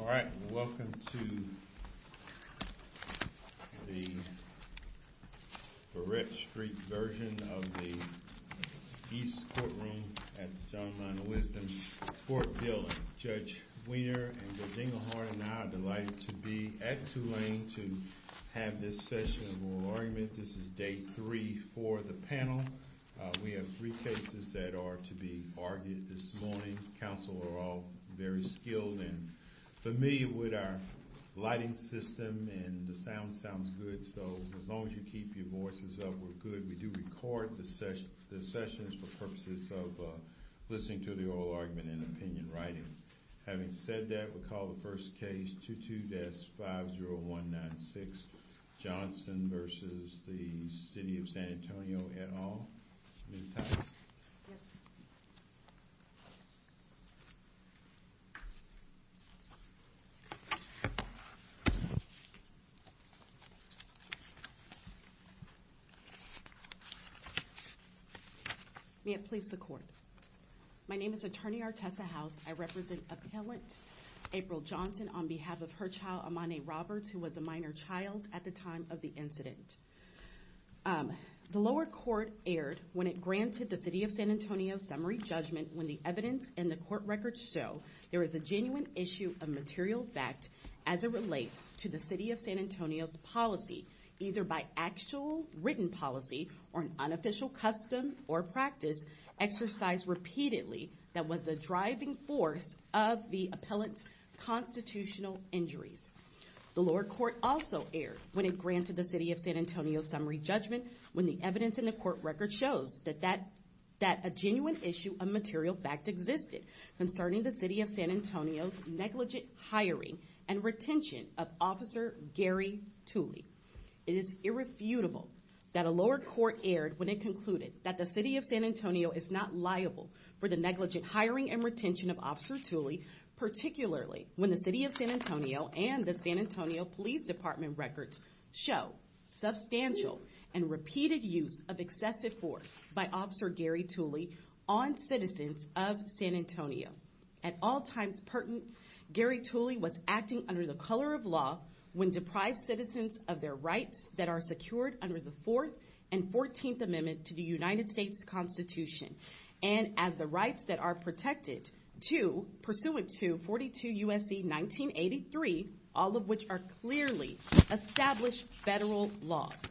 Alright, welcome to the Barrett Street version of the East Courtroom at the John Lionel Wisdom Court building. Judge Wiener and Judge Engelhardt and I are delighted to be at Tulane to have this session of oral argument. This is day three for the panel. We have three cases that are to be argued this morning. Counsel are all very skilled and familiar with our lighting system and the sound sounds good so as long as you keep your voices up we're good. We do record the sessions for purposes of listening to the oral argument and opinion writing. Having said that we'll call the first case 22-50196 Johnson v. City of San Antonio et al. May it please the court. My name is Attorney Artessa House. I represent Appellant April Johnson on behalf of her child Amani Roberts who was a minor child at the time of the incident. The lower court erred when it granted the City of San Antonio's summary judgment when the evidence in the court records show there is a genuine issue of material fact as it relates to the City of San Antonio's policy either by actual written policy or an unofficial custom or practice exercised repeatedly that was the driving force of the appellant's constitutional injuries. The lower court also erred when it granted the City of San Antonio's summary judgment when the evidence in the court records shows that a genuine issue of material fact existed concerning the City of San Antonio's negligent hiring and retention of Officer Gary Tuley. It is irrefutable that a lower court erred when it concluded that the City of San Antonio is not liable for the negligent hiring and retention of Officer Tuley particularly when the City of San Antonio and the San Antonio Police Department records show substantial and repeated use of excessive force by Officer Gary Tuley on citizens of San Antonio. At all times pertinent, Gary Tuley was acting under the color of law when deprived citizens of their rights that are secured under the Fourth and Fourteenth Amendment to the United States Constitution and as the rights that are protected to pursuant to 42 U.S.C. 1983 all of which are clearly established federal laws.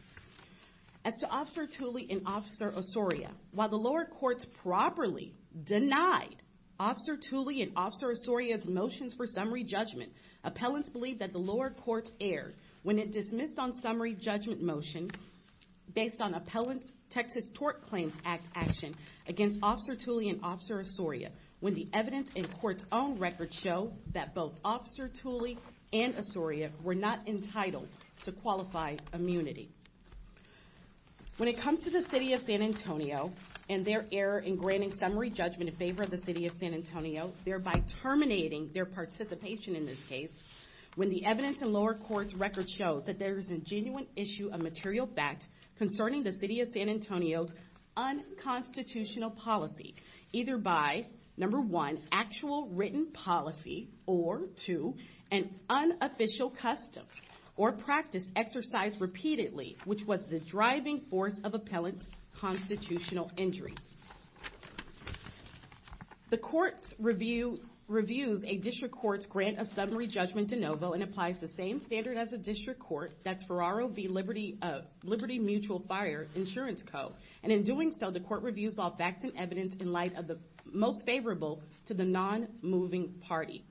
As to Officer Tuley and Officer Osorio, while the lower courts properly denied Officer Tuley and Officer Osorio's motions for summary judgment, appellants believe that the lower courts erred when it dismissed on summary judgment motion based on appellant's Texas Tort Claims Act action against Officer Tuley and Officer Osorio when the evidence in court's own records show that both Officer Tuley and Osorio were not entitled to qualify immunity. When it comes to the City of San Antonio and their error in granting summary judgment in favor of the City of San Antonio, thereby terminating their participation in this case, when the evidence in lower courts' records shows that there is a genuine issue of material fact concerning the City of San Antonio's unconstitutional policy either by, number one, actual written policy or, two, an unofficial custom or practice exercised repeatedly, which was the driving force of appellant's constitutional injuries. The court reviews a district court's grant of summary judgment de novo and applies the same standard as a district court, that's Ferraro v. Liberty Mutual Fire Insurance Co. And in doing so, the court reviews all facts and evidence in light of the most favorable to the non-moving party.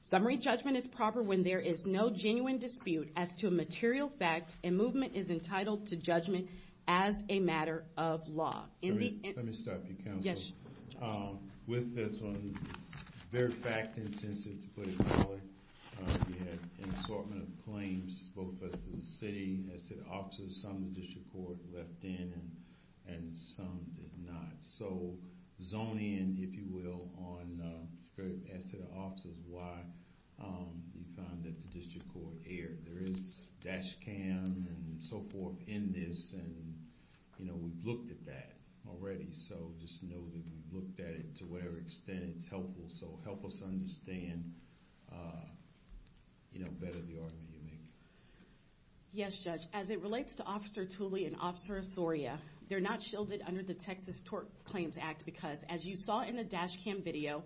Summary judgment is proper when there is no genuine dispute as to a material fact and movement is entitled to judgment as a matter of law. Let me start with you, counsel. With this one, it's very fact-intensive, to put it mildly. You had an assortment of claims, both as to the City and as to the officers. Some the district court left in and some did not. So, zone in, if you will, as to the officers, why you found that the district court erred. There is dash cam and so forth in this and, you know, we've looked at that already. So, just know that we've looked at it to whatever extent it's helpful. So, help us understand, you know, better the argument you make. Yes, Judge. As it relates to Officer Tooley and Officer Osorio, they're not shielded under the Texas Tort Claims Act because, as you saw in the dash cam video,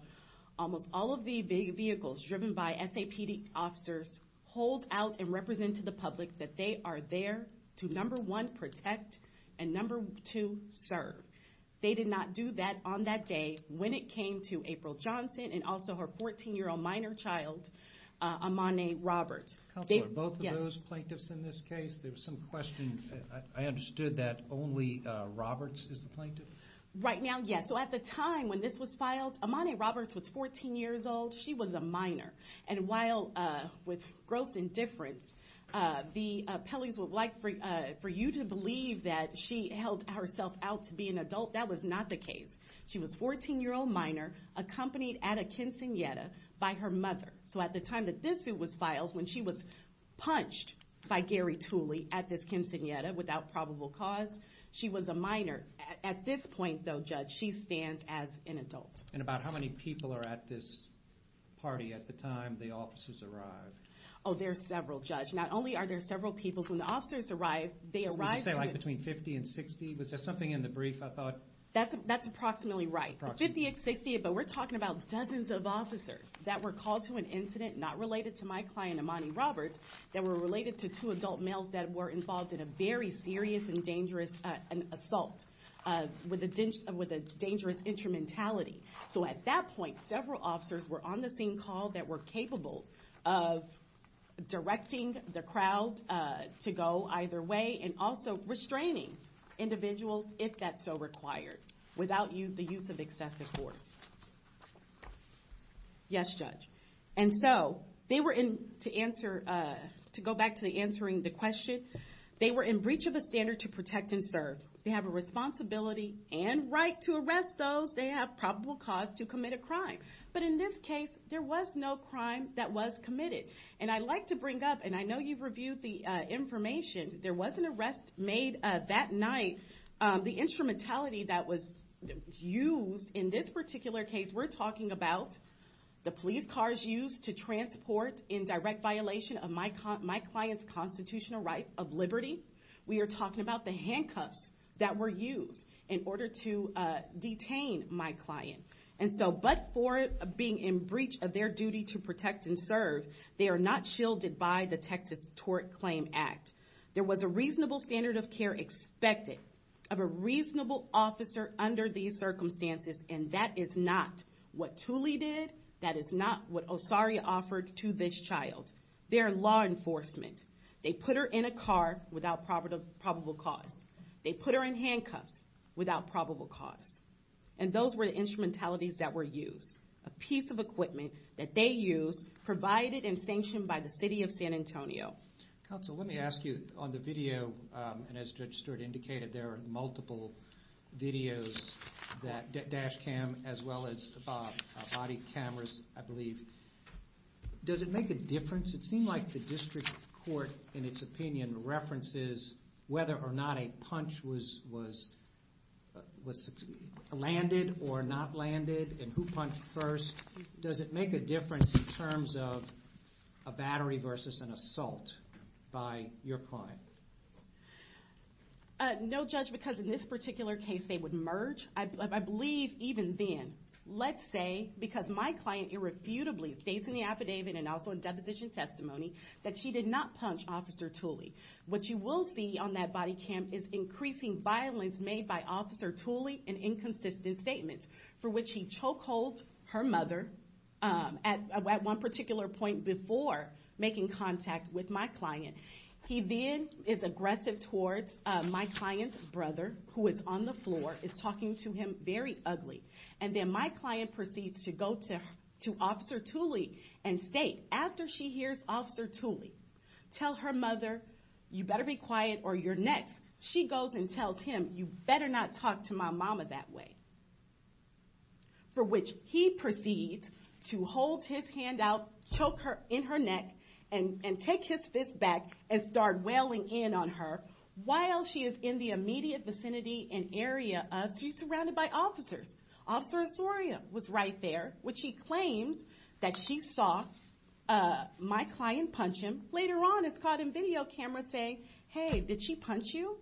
almost all of the vehicles driven by SAPD officers hold out and represent to the public that they are there to, number one, protect and, number two, serve. They did not do that on that day when it came to April Johnson and also her 14-year-old minor child, Amani Roberts. Counselor, both of those plaintiffs in this case, there was some question. I understood that only Roberts is the plaintiff? Right now, yes. So, at the time when this was filed, Amani Roberts was 14 years old. She was a minor. And while, with gross indifference, the appellees would like for you to believe that she held herself out to be an adult, that was not the case. She was a 14-year-old minor accompanied at a quinceañera by her mother. So, at the time that this was filed, when she was punched by Gary Tooley at this quinceañera without probable cause, she was a minor. At this point, though, Judge, she stands as an adult. And about how many people are at this party at the time the officers arrived? Oh, there are several, Judge. Not only are there several people, when the officers arrived, they arrived to... You say, like, between 50 and 60? Was there something in the brief, I thought? That's approximately right. 50 to 60, but we're talking about dozens of officers that were called to an incident not related to my client, Amani Roberts, that were related to two adult males that were involved in a very serious and dangerous assault with a dangerous instrumentality. So, at that point, several officers were on the scene called that were capable of directing the crowd to go either way and also restraining individuals, if that's so required, without the use of excessive force. Yes, Judge. And so, they were in, to answer, to go back to answering the question, they were in breach of a standard to protect and serve. They have a responsibility and right to arrest those. They have probable cause to commit a crime. But in this case, there was no crime that was committed. And I'd like to bring up, and I know you've reviewed the information, there was an arrest made that night. The instrumentality that was used in this particular case, we're talking about the police cars used to transport in direct violation of my client's constitutional right of liberty. We are talking about the handcuffs that were used in order to detain my client. And so, but for being in breach of their duty to protect and serve, they are not shielded by the Texas Tort Claim Act. There was a reasonable standard of care expected of a reasonable officer under these circumstances, and that is not what Tooley did, that is not what Osari offered to this child. They are law enforcement. They put her in a car without probable cause. They put her in handcuffs without probable cause. And those were the instrumentalities that were used. A piece of equipment that they used, provided and sanctioned by the city of San Antonio. Counsel, let me ask you, on the video, and as Judge Stewart indicated, there are multiple videos, dash cam as well as body cameras, I believe. Does it make a difference? It seemed like the district court, in its opinion, references whether or not a punch was landed or not landed, and who punched first. Does it make a difference in terms of a battery versus an assault by your client? No, Judge, because in this particular case, they would merge. I believe, even then, let's say, because my client irrefutably states in the affidavit and also in deposition testimony, that she did not punch Officer Tooley. What you will see on that body cam is increasing violence made by Officer Tooley and inconsistent statements, for which he choke holds her mother at one particular point before making contact with my client. He then is aggressive towards my client's brother, who is on the floor, is talking to him very ugly. And then my client proceeds to go to Officer Tooley and state, after she hears Officer Tooley, tell her mother, you better be quiet or you're next. She goes and tells him, you better not talk to my mama that way. For which he proceeds to hold his hand out, choke her in her neck, and take his fist back and start wailing in on her, while she is in the immediate vicinity and area of, she's surrounded by officers. Officer Osorio was right there, which he claims that she saw my client punch him. Later on, it's caught in video cameras saying, hey, did she punch you?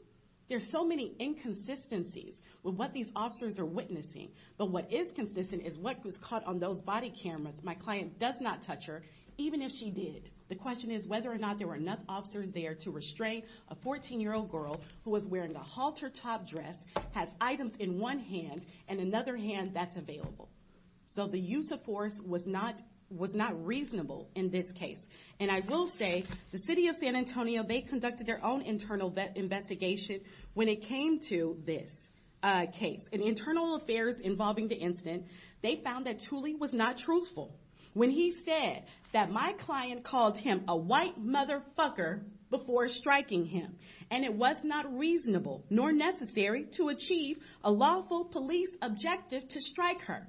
There's so many inconsistencies with what these officers are witnessing. But what is consistent is what was caught on those body cameras. My client does not touch her, even if she did. The question is whether or not there were enough officers there to restrain a 14-year-old girl who was wearing a halter top dress, has items in one hand and another hand that's available. So the use of force was not reasonable in this case. And I will say, the city of San Antonio, they conducted their own internal investigation when it came to this case. In internal affairs involving the incident, they found that Tooley was not truthful. When he said that my client called him a white motherfucker before striking him, and it was not reasonable nor necessary to achieve a lawful police objective to strike her.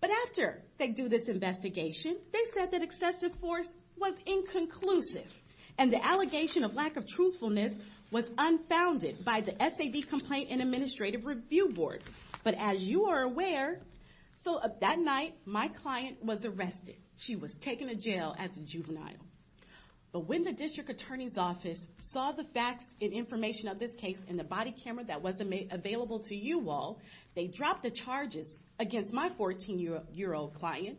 But after they do this investigation, they said that excessive force was inconclusive. And the allegation of lack of truthfulness was unfounded by the SAB Complaint and Administrative Review Board. But as you are aware, so that night, my client was arrested. She was taken to jail as a juvenile. But when the district attorney's office saw the facts and information of this case and the body camera that was available to you all, they dropped the charges against my 14-year-old client,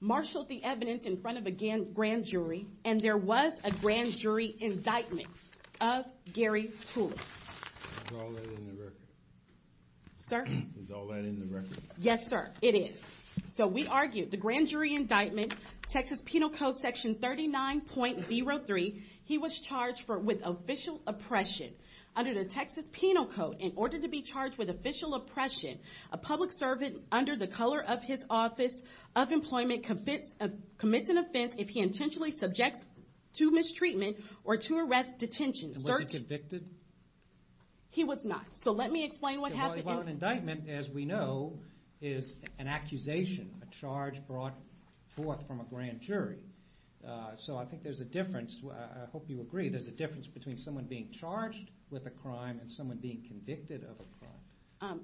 marshaled the evidence in front of a grand jury, and there was a grand jury indictment of Gary Tooley. Is all that in the record? Sir? Is all that in the record? Yes, sir, it is. So we argue the grand jury indictment, Texas Penal Code section 39.03, he was charged with official oppression under the Texas Penal Code in order to be charged with official oppression. A public servant under the color of his office of employment commits an offense if he intentionally subjects to mistreatment or to arrest detention. And was he convicted? He was not. So let me explain what happened. Well, an indictment, as we know, is an accusation, a charge brought forth from a grand jury. So I think there's a difference, I hope you agree, there's a difference between someone being charged with a crime and someone being convicted of a crime.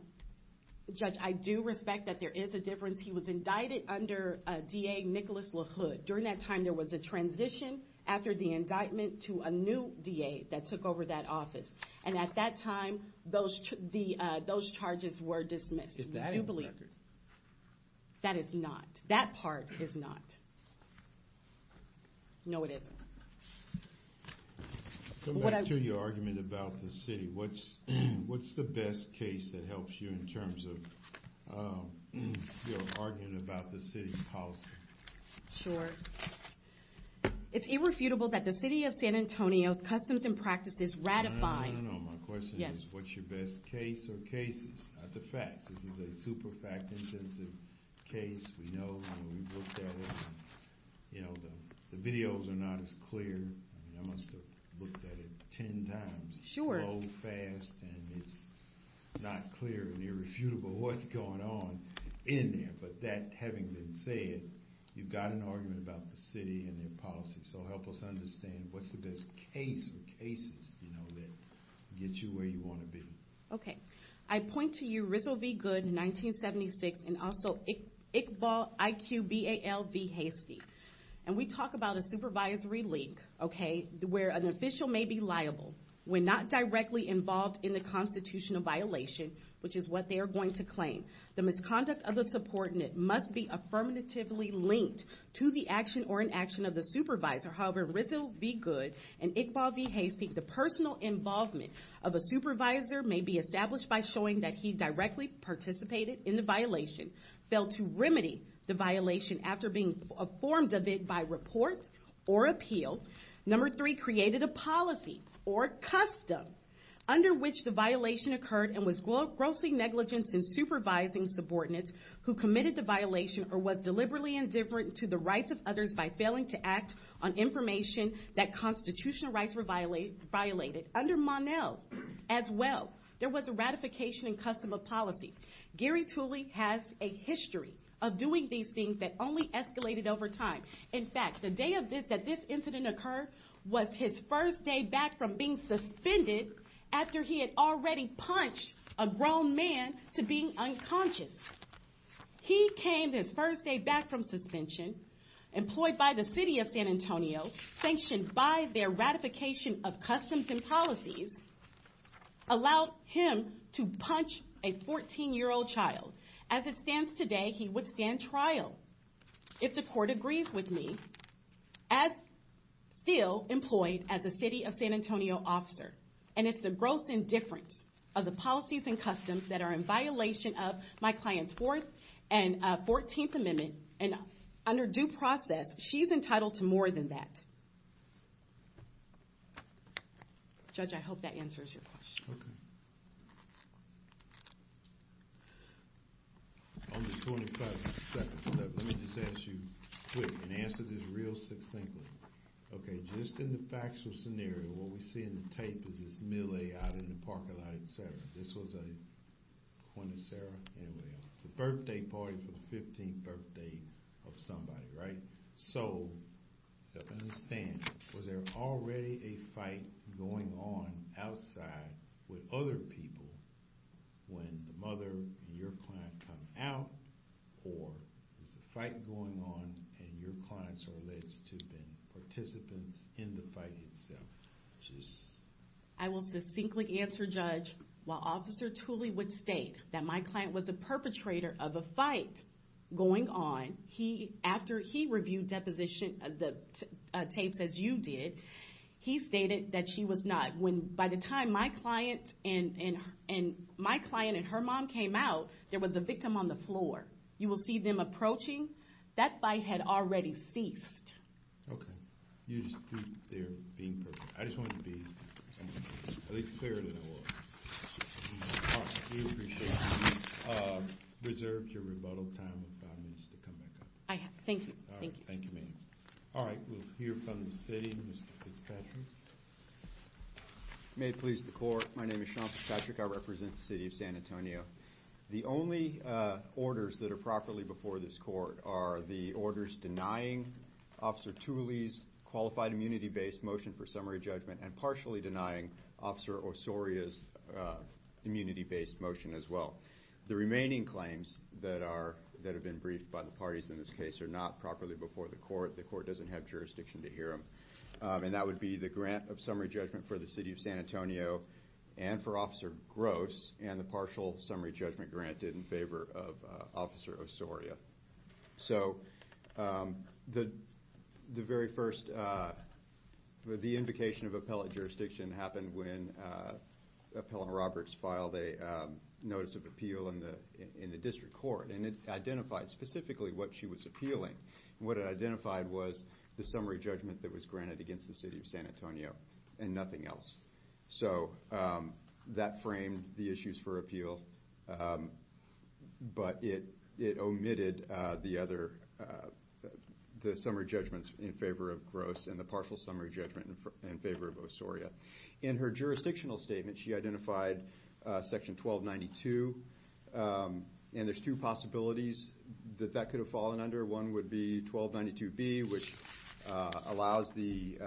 Judge, I do respect that there is a difference. He was indicted under D.A. Nicholas LaHood. During that time, there was a transition after the indictment to a new D.A. that took over that office. And at that time, those charges were dismissed. Is that in the record? That is not. That part is not. No, it isn't. Coming back to your argument about the city, what's the best case that helps you in terms of your argument about the city's policy? Sure. It's irrefutable that the City of San Antonio's customs and practices ratify... No, no, no, no, no, my question is what's your best case or cases, not the facts. This is a super fact-intensive case. We know, we've looked at it. The videos are not as clear. I must have looked at it ten times. It's slow, fast, and it's not clear and irrefutable what's going on in there. But that having been said, you've got an argument about the city and their policy. So help us understand what's the best case or cases that get you where you want to be. Okay. I point to your Rizzo v. Goode in 1976 and also Iqbal v. Hastie. And we talk about a supervisory link, okay, where an official may be liable when not directly involved in the constitutional violation, which is what they are going to claim. The misconduct of the support must be affirmatively linked to the action or inaction of the supervisor. However, in Rizzo v. Goode and Iqbal v. Hastie, the personal involvement of a supervisor may be established by showing that he directly participated in the violation and failed to remedy the violation after being informed of it by report or appeal. Number three, created a policy or custom under which the violation occurred and was grossly negligent in supervising subordinates who committed the violation or was deliberately indifferent to the rights of others by failing to act on information that constitutional rights were violated. Under Monell as well, there was a ratification and custom of policies. Gary Tooley has a history of doing these things that only escalated over time. In fact, the day that this incident occurred was his first day back from being suspended after he had already punched a grown man to being unconscious. He came his first day back from suspension, employed by the city of San Antonio, sanctioned by their ratification of customs and policies, allowed him to punch a 14-year-old child. As it stands today, he would stand trial if the court agrees with me, as still employed as a city of San Antonio officer. And it's the gross indifference of the policies and customs that are in violation of my client's Fourth and Fourteenth Amendment. And under due process, she's entitled to more than that. Judge, I hope that answers your question. Okay. On the 25th, let me just ask you quick and answer this real succinctly. Okay, just in the factual scenario, what we see in the tape is this melee out in the parking lot, et cetera. This was a, when is Sarah? Anyway, it's a birthday party for the 15th birthday of somebody, right? So, to understand, was there already a fight going on outside with other people when the mother and your client come out, or is the fight going on and your clients are alleged to have been participants in the fight itself? I will succinctly answer, Judge. While Officer Tooley would state that my client was a perpetrator of a fight going on, he, after he reviewed deposition, the tapes as you did, he stated that she was not. When, by the time my client and my client and her mom came out, there was a victim on the floor. You will see them approaching. That fight had already ceased. Okay. You just keep there being perfect. I just wanted to be at least clearer than I was. We appreciate you. Reserve your rebuttal time for five minutes to come back up. I have. Thank you. All right. We'll hear from the city. Mr. Fitzpatrick. May it please the court. My name is Sean Fitzpatrick. I represent the city of San Antonio. The only orders that are properly before this court are the orders denying Officer Tooley's qualified immunity-based motion for summary judgment and partially denying Officer Osorio's immunity-based motion as well. The remaining claims that are, that have been briefed by the parties in this case are not properly before the court. The court doesn't have jurisdiction to hear them. And that would be the grant of summary judgment for the city of San Antonio and for Officer Gross and the partial summary judgment granted in favor of Officer Osorio. So, the, the very first, the invocation of appellate jurisdiction happened when Appellant Roberts filed a notice of appeal in the in the district court. And it identified specifically what she was appealing. And what it identified was the summary judgment that was granted against the city of San Antonio and nothing else. So, that framed the issues for appeal. But it, it omitted the other, the summary judgments in favor of Gross and the partial summary judgment in favor of Osorio. And she identified section 1292. And there's two possibilities that that could have fallen under. One would be 1292B, which allows the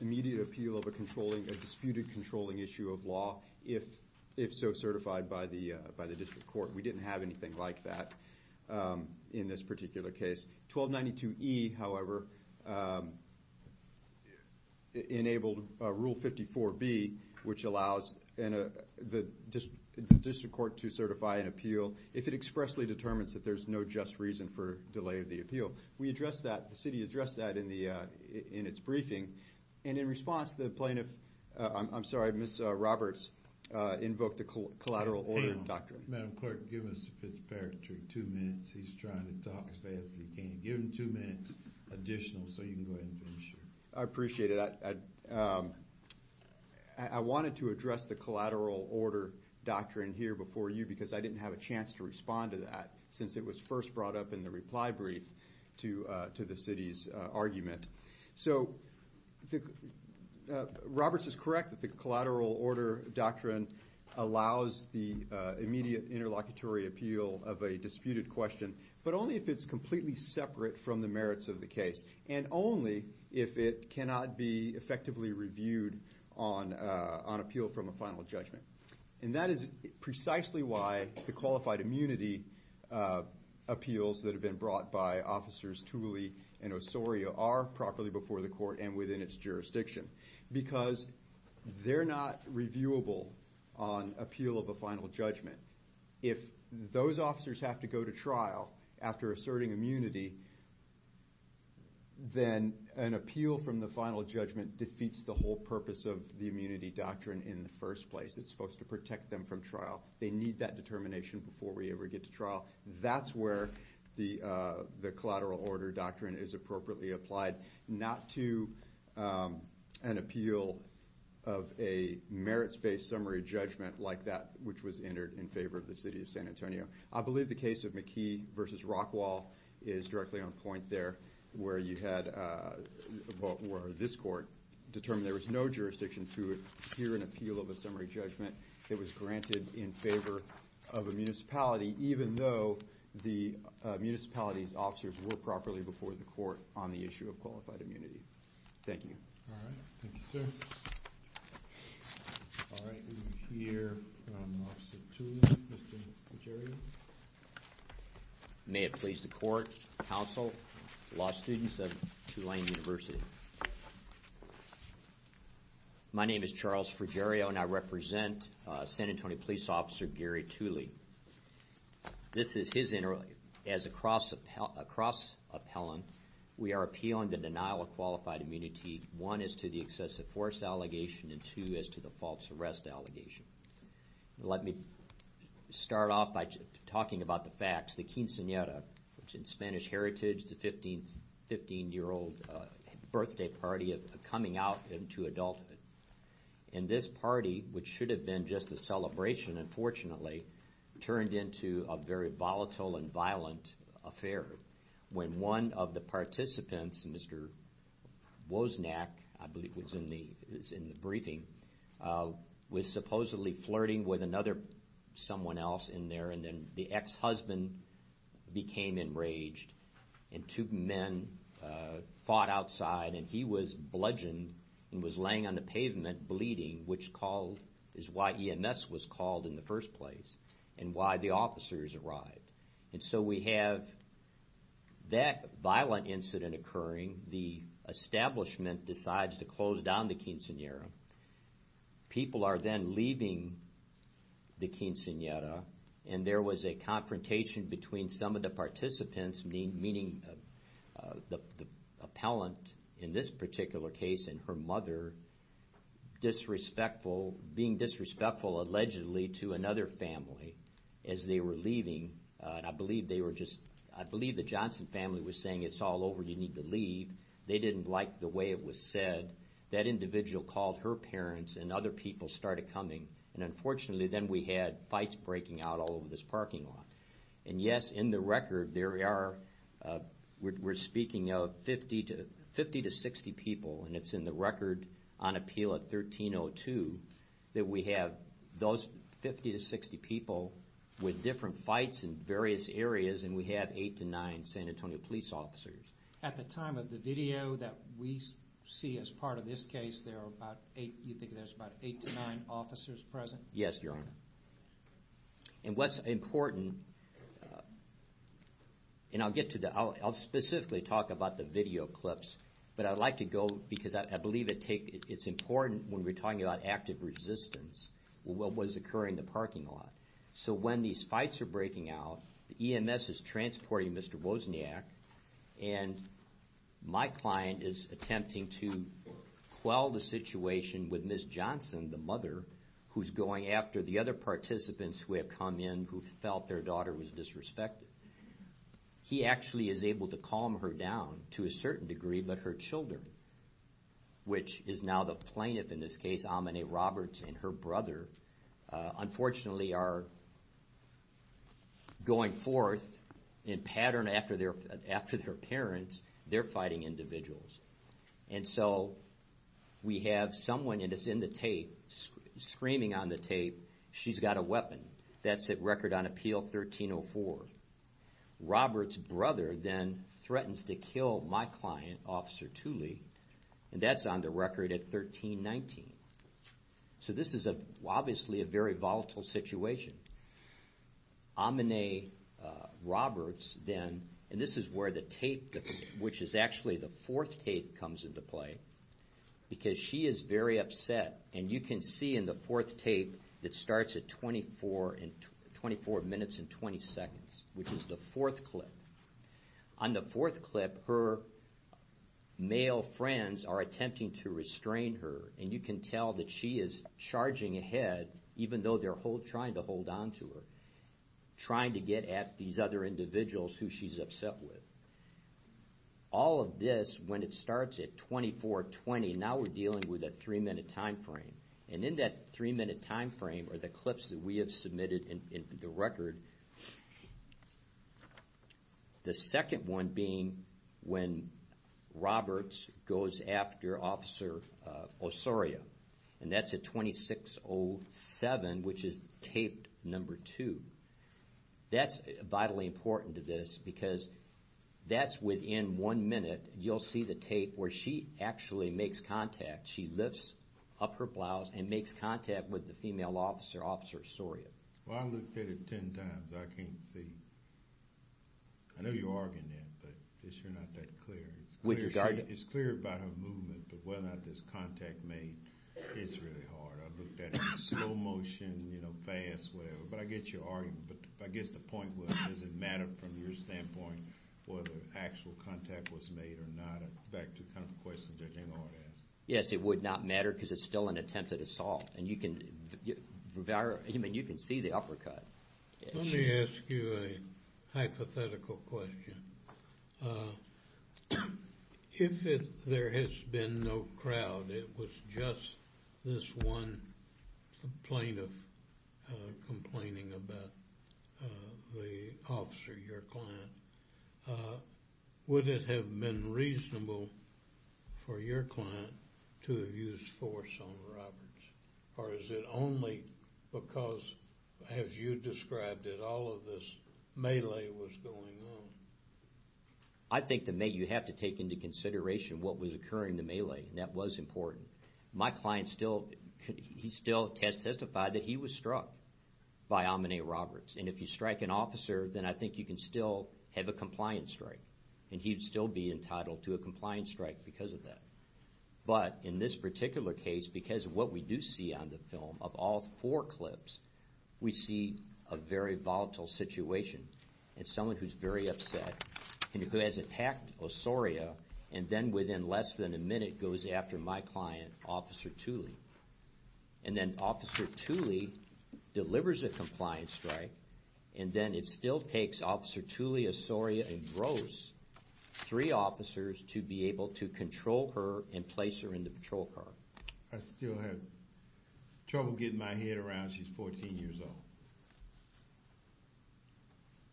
immediate appeal of a controlling, a disputed controlling issue of law if, if so certified by the, by the district court. We didn't have anything like that in this particular case. 1292E, however, enabled Rule 54B, which allows the district court to certify an appeal if it expressly determines that there's no just reason for delay of the appeal. We addressed that, the city addressed that in its briefing. And in response, the plaintiff, I'm sorry, Ms. Roberts invoked the collateral order doctrine. Madam Clerk, give Mr. Fitzpatrick two minutes. He's trying to talk as fast as he can. Give him two minutes additional so you can go ahead and finish. I appreciate it. I wanted to address the collateral order doctrine here before you because I didn't have a chance to respond to that since it was first brought up in the reply brief to the city's argument. So, Roberts is correct that the collateral order doctrine allows the immediate interlocutory appeal of a disputed question, but only if it's completely separate from the merits of the case and only if it cannot be effectively reviewed on appeal from a final judgment. And that is precisely why the qualified immunity appeals that have been brought by Officers Tooley and Osorio are properly before the court and within its jurisdiction because they're not reviewable on appeal of a final judgment. If those officers have to go to trial after asserting immunity, then an appeal from the final judgment defeats the whole purpose of the immunity doctrine in the first place. It's supposed to protect them from trial. They need that determination before we ever get to trial. That's where the collateral order doctrine is appropriately applied, not to an appeal of a merits-based summary judgment like that which was entered in favor of the city of San Antonio. I believe the case of McKee versus Rockwall is directly on point there where this court determined there was no jurisdiction to hear an appeal of a summary judgment that was granted in favor of a municipality even though the municipality's officers were properly before the court on the issue of qualified immunity. Thank you. All right, thank you, sir. All right, we hear from Officer Tooley, Mr. Frigerio. May it please the court, counsel, law students of Tulane University. My name is Charles Frigerio and I represent San Antonio Police Officer Gary Tooley. This is his inter- As a cross-appellant, we are appealing the denial of qualified immunity one, as to the excessive force allegation and two, as to the false arrest allegation. Let me start off by talking about the facts. The quinceanera, which in Spanish heritage is the 15-year-old birthday party coming out into adulthood. And this party, which should have been just a celebration, unfortunately, turned into a very volatile and violent affair when one of the participants, Mr. Wozniak, I believe was in the briefing, was supposedly flirting with another someone else in there and then the ex-husband became enraged and two men fought outside and he was bludgeoned and was laying on the pavement bleeding, which is why EMS was called in the first place and why the officers arrived. And so we have that violent incident occurring. The establishment decides to close down the quinceanera and people are then leaving the quinceanera and there was a confrontation between some of the participants, meaning the appellant in this particular case and her mother, disrespectful, being disrespectful allegedly to another family I believe the Johnson family was saying it's all over, you need to leave. They didn't like the way it was said. That individual called her parents and other people started coming and unfortunately then we had fights breaking out all over this parking lot. And yes, in the record we're speaking of 50 to 60 people and it's in the record on appeal at 1302 that we have those 50 to 60 people with different fights in various areas and we have 8 to 9 video that we see as part of this case you think there's about 8 to 9 officers present? Yes, your honor. And what's important and I'll get to that I'll specifically talk about the video clips but I'd like to go because I believe it's important when we're talking about active resistance what was occurring in the parking lot. So when these fights are breaking out the EMS is transporting Mr. Wozniak and my client is attempting to quell the situation with Ms. Johnson, the mother who's going after the other participants who have come in who felt their daughter was disrespected. He actually is able to calm her down to a certain degree but her children which is now the plaintiff in this case Amine Roberts and her brother unfortunately are going forth in pattern after their parents they're fighting individuals. And so we have someone and it's in the tape screaming on the tape she's got a weapon. That's at record on appeal 1304. Roberts' brother then threatens to kill my client Officer Tooley and that's on the record at 1319. So this is obviously a very volatile situation. Amine Roberts then and this is where the tape which is actually the fourth tape comes into play because she is very upset and you can see in the fourth tape it starts at 24 24 minutes and 20 seconds which is the fourth clip. On the fourth clip her male friends are attempting to restrain her and you can tell that she is charging ahead even though they're trying to hold on to her. Trying to get at these other individuals who she's upset with. All of this when it starts at 24 20 now we're dealing with a three minute time frame. And in that three minute time frame are the clips that we have submitted in the record. The second one being when Roberts goes after Officer Osorio and that's at 26 0 7 which is tape number 2. That's vitally important to this because that's within one minute you'll see the tape where she actually makes contact she lifts up her blouse and makes contact with the female officer, Officer Osorio. Well I looked at it ten times I can't see. I know you're arguing that but it's sure not that clear. It's clear about her movement but whether or not this contact made it's really hard. I looked at it in slow motion you know fast but I get your argument but I guess the point was does it matter from your standpoint whether actual contact was made or not. Back to the kind of questions that they ought to ask. Yes it would not matter because it's still an attempted assault and you can see the uppercut. Let me ask you a hypothetical question. If it there has been no crowd it was just this one plaintiff complaining about the officer your client would it have been reasonable for your client to have used force on Roberts or is it only because as you described it all of this was going on. I think you have to take into consideration what was occurring in the melee and that was important. My client still testified that he was struck by Amine Roberts and if you strike an officer then I think you can still have a compliance strike and he would still be entitled to a compliance strike because of that. But in this particular case because what we do see on the film of all four clips we see a very volatile situation and someone who is very upset and who has attacked Osoria and then within less than a minute goes after my client Officer Tuley and then Officer Tuley delivers a compliance strike and then it still takes Officer Tuley to Osoria and grows three officers to be able to control her and place her in the patrol car. I still have trouble getting my head around she's 14 years old.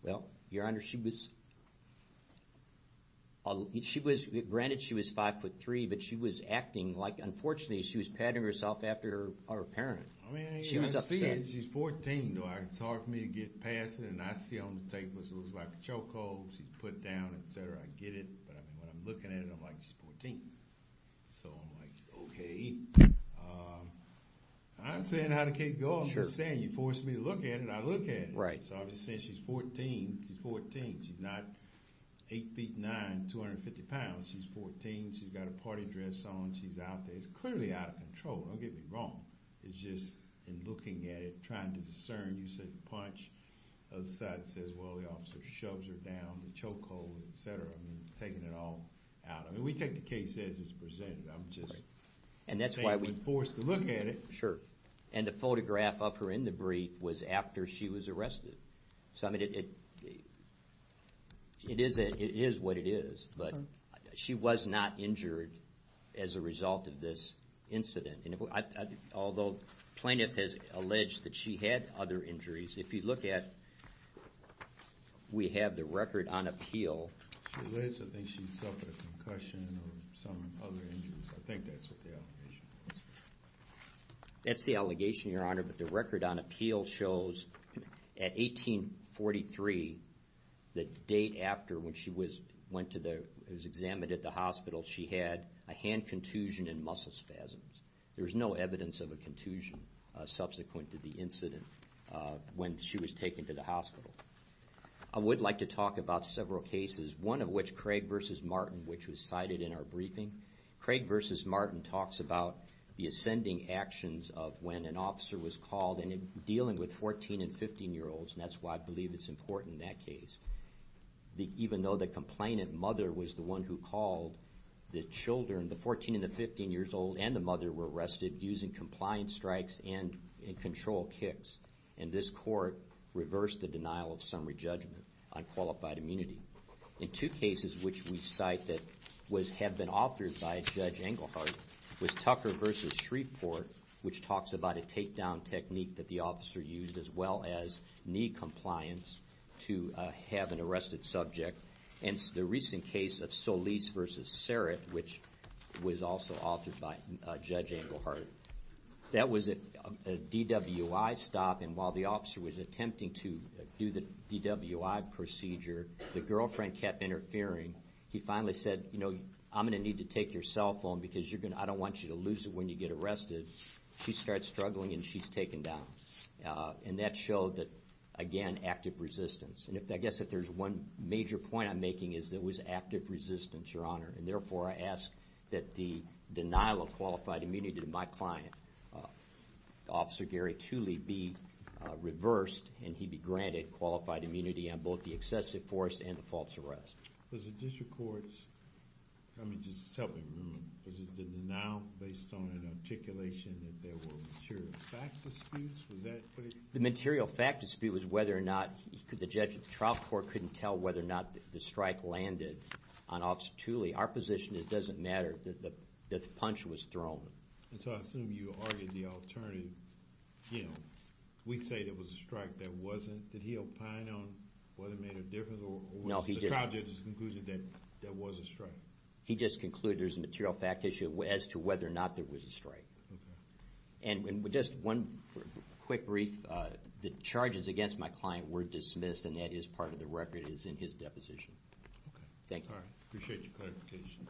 Well, Your Honor, she was granted she was 5'3", but she was acting like unfortunately she was patting herself after her parent. She was upset. She's 14 and it's hard for me to get past her and I see on the tape it looks like a choke hold she's put down etc. I get it, but when I'm looking at it I'm like she's 14. So I'm like okay. I'm saying how did the case go? I'm just saying you forced me to look at it and I look at it. So I'm just saying she's 14. She's 14. She's not 8'9", 250 pounds. She's 14. She's got a party dress on. She's out there. It's clearly out of control. Don't get me wrong. It's just in looking at it, trying to discern. You said punch. The other side says well the officer shoves her down the choke hold etc. Taking it all out. We take the case as it's presented. I'm just saying you forced me to look at it. And the photograph of her in the brief was after she was arrested. It is what it is. She was not injured as a result of this Although plaintiff has alleged that she had other injuries. If you look at, we have the record on appeal. I think she suffered a concussion or some other injuries. I think that's what the allegation is. That's the allegation, Your Honor, but the record on appeal shows at 1843, the date after when she was examined at the hospital, she had a hand contusion and muscle spasms. There was no evidence of a contusion subsequent to the incident when she was taken to the hospital. I would like to mention defendant's mother was arrested and was arrested in our briefing. Craig v. Martin talks about the ascending actions of when an officer was called and dealing with 14 and 15 year olds. That's why I believe it's important in that case. Even though the complainant mother was the one who called, the children, the 14 and 15 years old and her son, one who was the one who was arrested. The court reversed the denial of summary judgment on qualified immunity. In two cases which we cite that have been authored by Judge Englehart, was Tucker v. Shreveport which talks about a takedown on a DWI stop and while the officer was attempting to do the DWI procedure, the girlfriend kept interfering. He finally said, you know, I'm going to need to take your cell phone because I don't want you to lose it when you get arrested. She starts struggling and she's taken down. And that showed that again active resistance. I guess if there's one major point I'm making is that it was active resistance, Your Honor, and therefore I ask that the denial of qualified immunity to my client, Officer Gary Tooley, be reversed and he be granted on both the excessive force and the false arrest. The material fact dispute was whether or not the judge at the trial court couldn't tell whether or not the strike landed on Officer Tooley. Our position is it doesn't matter that the punch was thrown. And so I assume you argued the alternative. You know, we say there was a strike that wasn't. Did he opine on whether it made a difference or was the trial judge's conclusion that there was a strike? He just concluded there's a material fact issue as to whether or not there was a strike. And with just one quick brief, the charges against my client were dismissed and that is part of the record is in his deposition. Thank you. All right. Appreciate your clarification.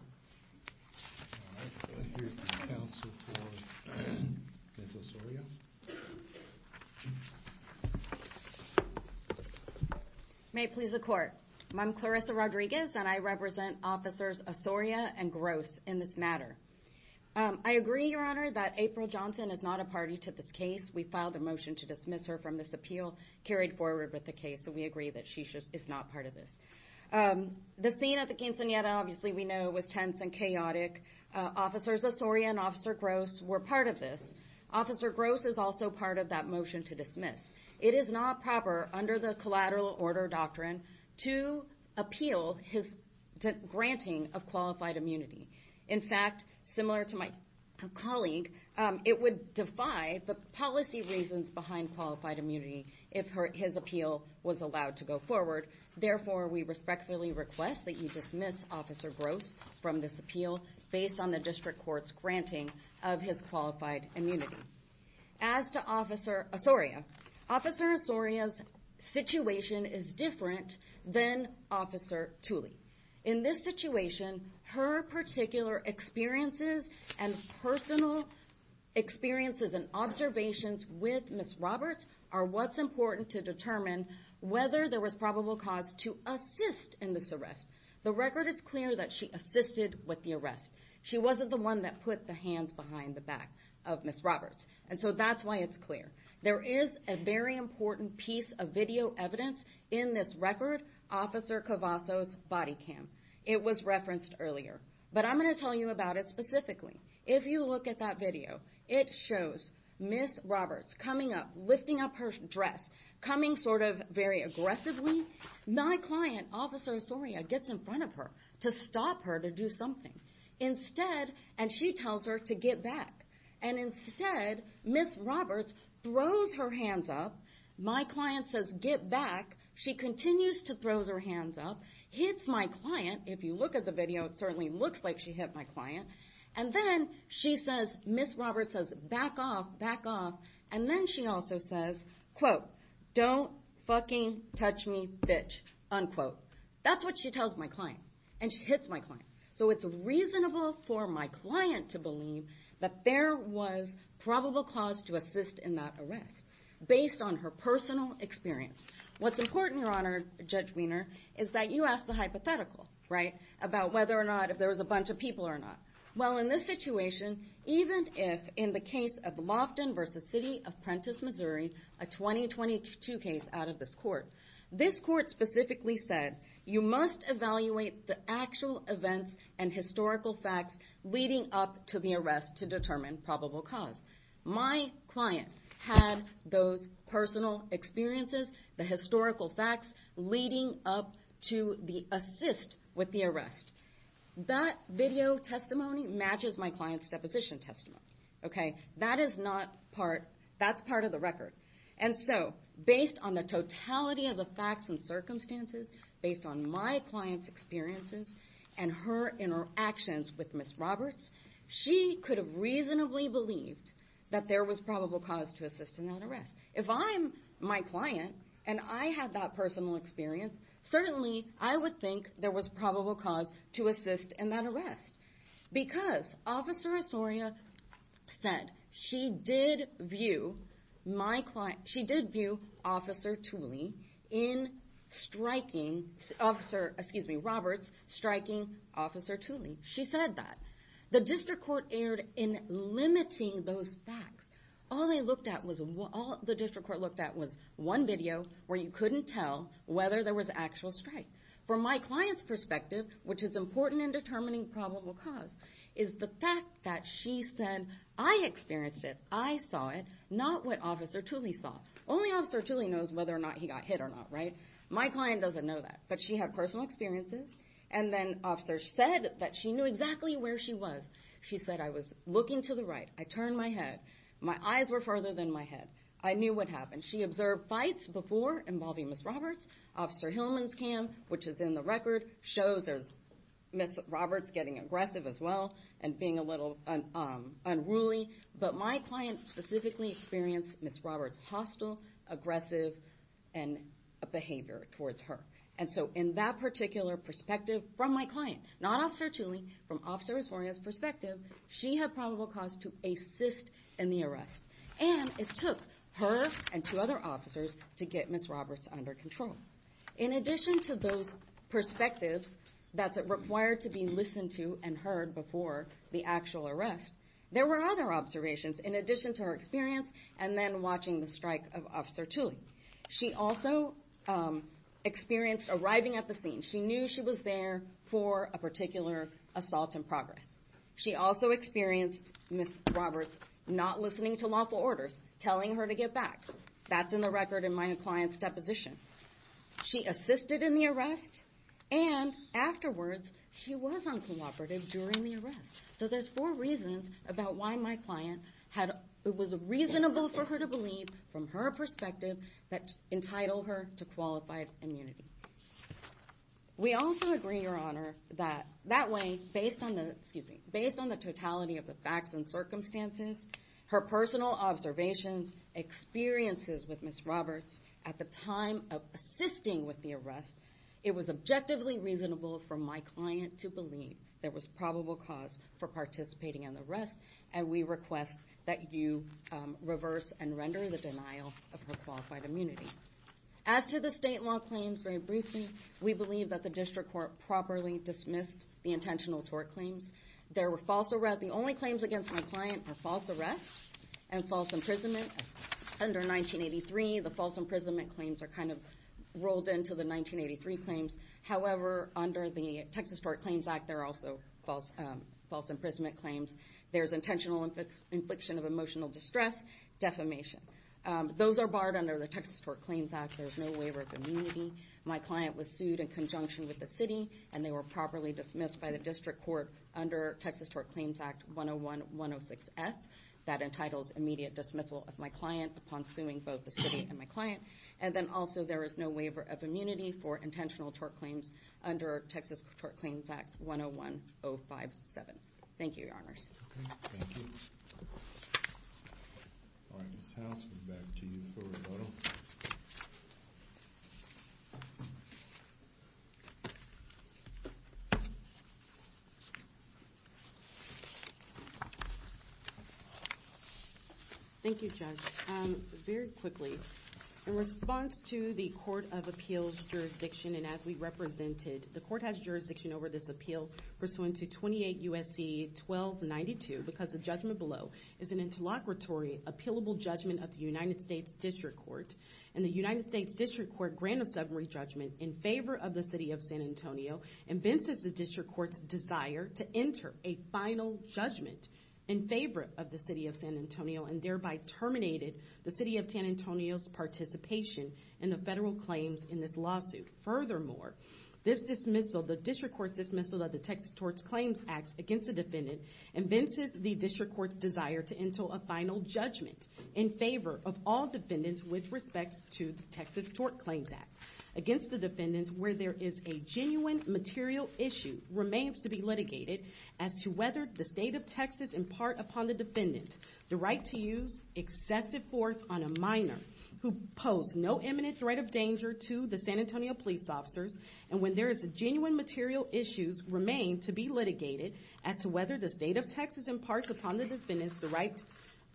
All right. We'll hear from counsel for Ms. Osorio. May it please the court. I'm Clarissa Rodriguez and I represent officers Osorio and Gross in this matter. I agree, Your Honor, that April Johnson is not a party to this case. We filed a motion to dismiss her from this appeal carried forward with the case so we agree that she is not part of this. The scene at the quinceanera obviously we know was tense and chaotic. Officers Osorio and Officer Gross were part of this. Officer Gross is also part of that motion to dismiss. It is not proper under the collateral order doctrine to appeal his granting of qualified immunity. In fact, similar to my colleague, it would defy the policy reasons behind qualified immunity if his appeal was allowed to go forward. Therefore, we respectfully request that you dismiss Officer Gross from this appeal based on the district court's granting of his qualified immunity. Officer Osorio, Officer Osorio's situation is different than Officer Tooley. In this situation, her particular experiences and experiences are different than Officer Tooley's. And personal experiences and observations with Ms. Roberts are what's important to determine whether there was probable cause to assist in this arrest. The record is clear that she assisted with the arrest. She wasn't the one that put the hands behind the back of Ms. Roberts. And so that's why it's clear. There is a very important piece of video evidence in this record, Officer Cavasso's body cam. It was referenced earlier. But I'm going to tell you about it specifically. If you look at that video, it shows Ms. Roberts coming up, lifting up her dress, coming sort of very aggressively. My client, Officer Osorio, gets in front of her to stop her to do something. Instead, and she tells her to get back. And instead, Ms. Roberts throws her hands up. My client says, get back. She continues to throw her hands up, hits my client. If you look at the video, it certainly looks like she hit my client. And then she says, Ms. Roberts says, back off, back off. And then she also says, quote, don't fucking touch me, bitch, unquote. That's what she tells my client. And she hits my client. So it's reasonable for my client to believe that there was probable cause to assist in that arrest, based on her personal experience. What's important, Your Honor, Judge Wiener, is that you asked the question about whether or not if there was a bunch of people or not. Well, in this situation, even if in the case of Lofton v. City of Prentiss, Missouri, a 2022 case out of this court, this court specifically said, you must evaluate the actual events and historical facts leading up to the arrest to determine probable cause. My client had those personal experiences, the historical facts leading up to the assist with the arrest. And she said, that video testimony matches my client's deposition testimony. Okay? That is not part, that's part of the record. And so, based on the totality of the facts and circumstances, based on my client's experiences and her interactions with Ms. Roberts, she could have reasonably believed probable cause to assist in that arrest. If I'm my client, and I had that personal experience, certainly I would think there was probable cause to assist in that arrest. Because, Officer Osorio said, she did view my client, she did view Officer Tooley in striking Officer, excuse me, Roberts, striking Officer Tooley. She said that. The District Court erred in limiting those facts. All they looked at was, all the couldn't tell whether there was actual strike. From my client's perspective, which is important, the District Court looked at was one video where you couldn't tell whether there was actual strike. What's important in determining probable cause is the fact that she said, I experienced it, I saw it, not what Officer Tooley saw. Only Officer Tooley knows whether or not he got hit or not, right? My client doesn't know that, but she had personal experiences, and then Officer said that she knew exactly where she was. She said, I was looking to the right, I turned my head, my eyes were further than my head, I knew what happened. She observed fights before involving Ms. Roberts. Officer Hillman's cam, which is in the record, shows Ms. Roberts getting aggressive as well and being a little unruly, but my client specifically experienced Ms. Roberts hostile, aggressive, and behavior towards her. And so in that particular perspective from my client, not Officer Tooley, from Officer Resoria's perspective, she had probable cause to assist in the arrest. And it took her and two other officers to get Ms. Roberts under control. In addition to those perspectives that's required to be listened to and heard before the actual arrest, there were other observations in addition to her experience and then watching the strike of Officer Tooley. She also experienced arriving at the scene. She knew she was there for a particular assault in progress. She also experienced Ms. Roberts not listening to lawful orders, telling her to get back. That was in the record in my client's deposition. She assisted in the arrest, and afterwards she was uncooperative during the arrest. So there's four reasons about why my client had, it was reasonable for her to believe from her perspective that entitled her to qualified immunity. We also agree, Your Honor, that that way, based on the, excuse me, based on the totality of the facts and circumstances, her personal observations, experiences with Ms. Roberts, at the time of assisting with the arrest, it was objectively reasonable for my client to believe there was probable cause for participating in the arrest, and we request that you reverse and render the denial of her qualified immunity. As to the state law claims, very briefly, we believe that the District Court properly dismissed the intentional tort claims. There were false arrests, the only claims against my client were false arrests and false imprisonment. Under 1983, the false imprisonment claims are kind of rolled into the 1983 claims. However, under the Texas Tort Claims Act, there are also false imprisonment claims. There's intentional infliction of emotional distress, defamation. Those are barred under the Texas Tort Claims Act. There's no waiver of immunity. My client was sued in conjunction with the city, and they were properly dismissed by the District Court under Texas Tort Claims Act 101-106-F that entitles immediate dismissal of my client upon suing both the city and my client, and then also there is no waiver of immunity for intentional tort claims under Texas Tort Claims Act 101-057. Thank you, Your Honors. Thank you, Judge. Very quickly, in response to the Court of Appeals jurisdiction, and as we represented, the court has jurisdiction over this appeal pursuant to 28 U.S.C. 1292 because the judgment below is an interlocutory appealable judgment of the United States District Court, and the United States District Court grant of summary judgment in favor of the City of San Antonio and this is the District Court's desire to enter a final judgment in favor of the City of San Antonio, and thereby terminated the City of San Antonio's participation in the federal claims in this lawsuit. Furthermore, this dismissal, the District Court's dismissal of the Texas Tort Claims Act against the defendants is a genuine material issue remains to be litigated as to whether the State of Texas impart upon the defendant the right to use excessive force on a minor who pose no imminent threat of danger genuine material issues remain to be litigated as to whether the State of Texas impart upon the defendant the right to use excessive force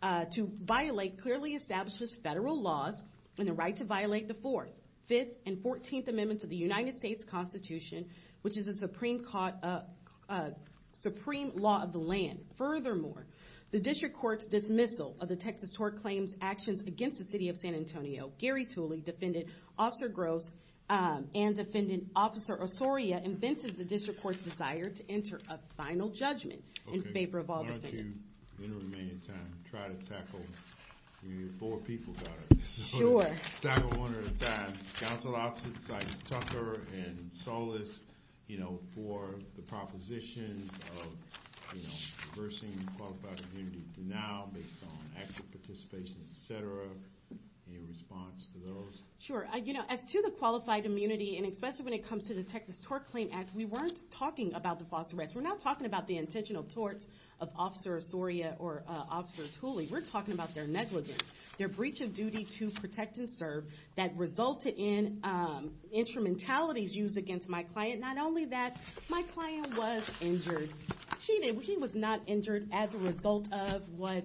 on a minor who pose no imminent threat to their be litigated as to whether the State of Texas impart upon the defendant the right to violate clearly established federal laws and the right to violate the Fourth, Fifth, and Fourteenth Amendments of the United States Constitution supreme law of the land. Furthermore, the District Court's dismissal of the Texas Tort Claims Act against the City of San Antonio, Gary Tooley, Defendant in favor of all defendants. Why don't you, in the remaining time, try to tackle, you have four people got it. Sure. Tackle one at a time. Council Opposites like Tucker and Solis, you know, for the propositions of, you know, reversing the Qualified Immunity Denial based on active participation, et cetera. Any response to those? Sure. You know, as to the Qualified Immunity and especially when it comes to the Texas Tort Claims Act, we weren't just talking about the false arrests. We're not talking about the intentional torts of Officer Osorio or Officer Tooley. We're talking about their negligence, their breach of duty to protect and serve that resulted in instrumentalities used against my client. Not only that, my client was injured. She was not injured as a result of what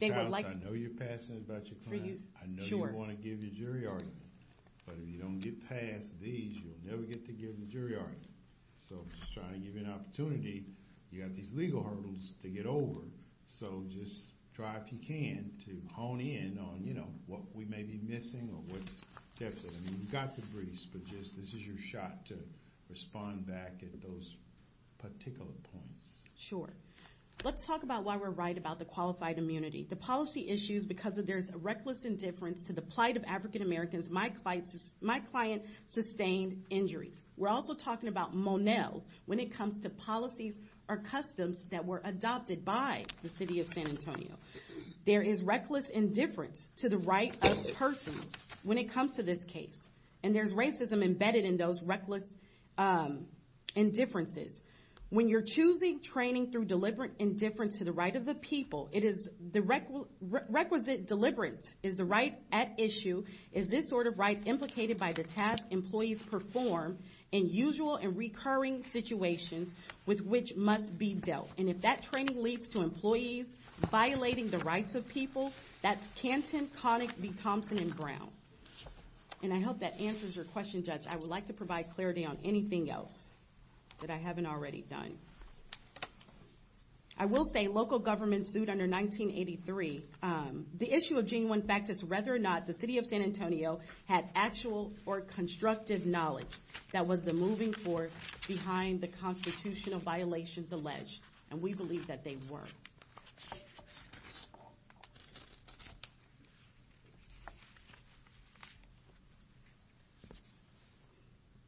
they were like. Ms. Allison, I know about your client. I know you want to give your jury argument. But if you don't get past these, you'll never get to give the jury argument. So, I'm not trying to give you an opportunity. You have these legal hurdles to get over. So, just try, if you can, to hone in on what we may be missing or what's different. I mean, you've got the briefs, but this is your shot to respond back at those particular points. Sure. Let's talk about why we're right about the Qualified Immunity. The policy issues because there's a reckless indifference to the plight of African-Americans, my client sustained injuries. We're also talking about Monell. When it comes to policies or customs that were adopted by the city of San Antonio, there is reckless indifference to the right of persons when it comes to this case. And there's racism embedded in those reckless indifferences. When you're choosing training through deliberate indifference to the right of the people, it is the is this sort of right implicated by the task employees perform in usual and recurring situations. So, I'm not trying to give you an opportunity to give you an opportunity to look at the situations with which must be dealt. And if that training leads to employees violating the rights of people, that's Canton, Connick, B. Thompson, and Brown. And, I hope that answers your question, judge. I would like to provide clarity on anything else that I haven't already done. I will say local governments sued under 1983. The issue of genuine fact is whether or not the city of San Antonio had actual or constructive knowledge that was a moving force behind the constitutional violations alleged. And, we believe that they were.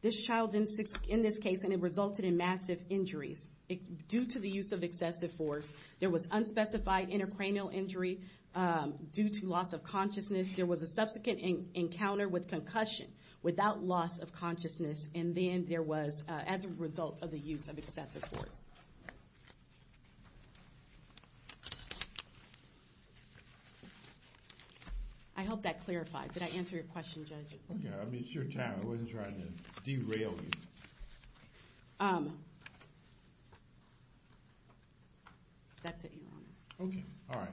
This child in this case resulted in massive injuries due to the use of excessive force. There was intercranial injury due to loss of consciousness. There was a subsequent encounter with concussion without loss of consciousness and then due to excessive force. And, there was as a result of the use of excessive force. I hope that clarifies. Did I answer your question, judge? Okay. I mean, it's your time. I wasn't trying to derail you. That's it, your Honor. Okay. All right.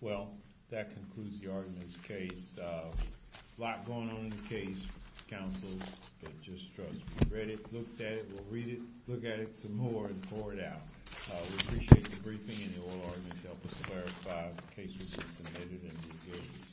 Well, that concludes the argument of this case. A lot going on in the case. Counsel, get your questions addressed. We've read it, looked at it, we'll read it, look at it some more and pour it out. We appreciate the briefing and the oral argument to help us clarify the cases that have been admitted and engaged.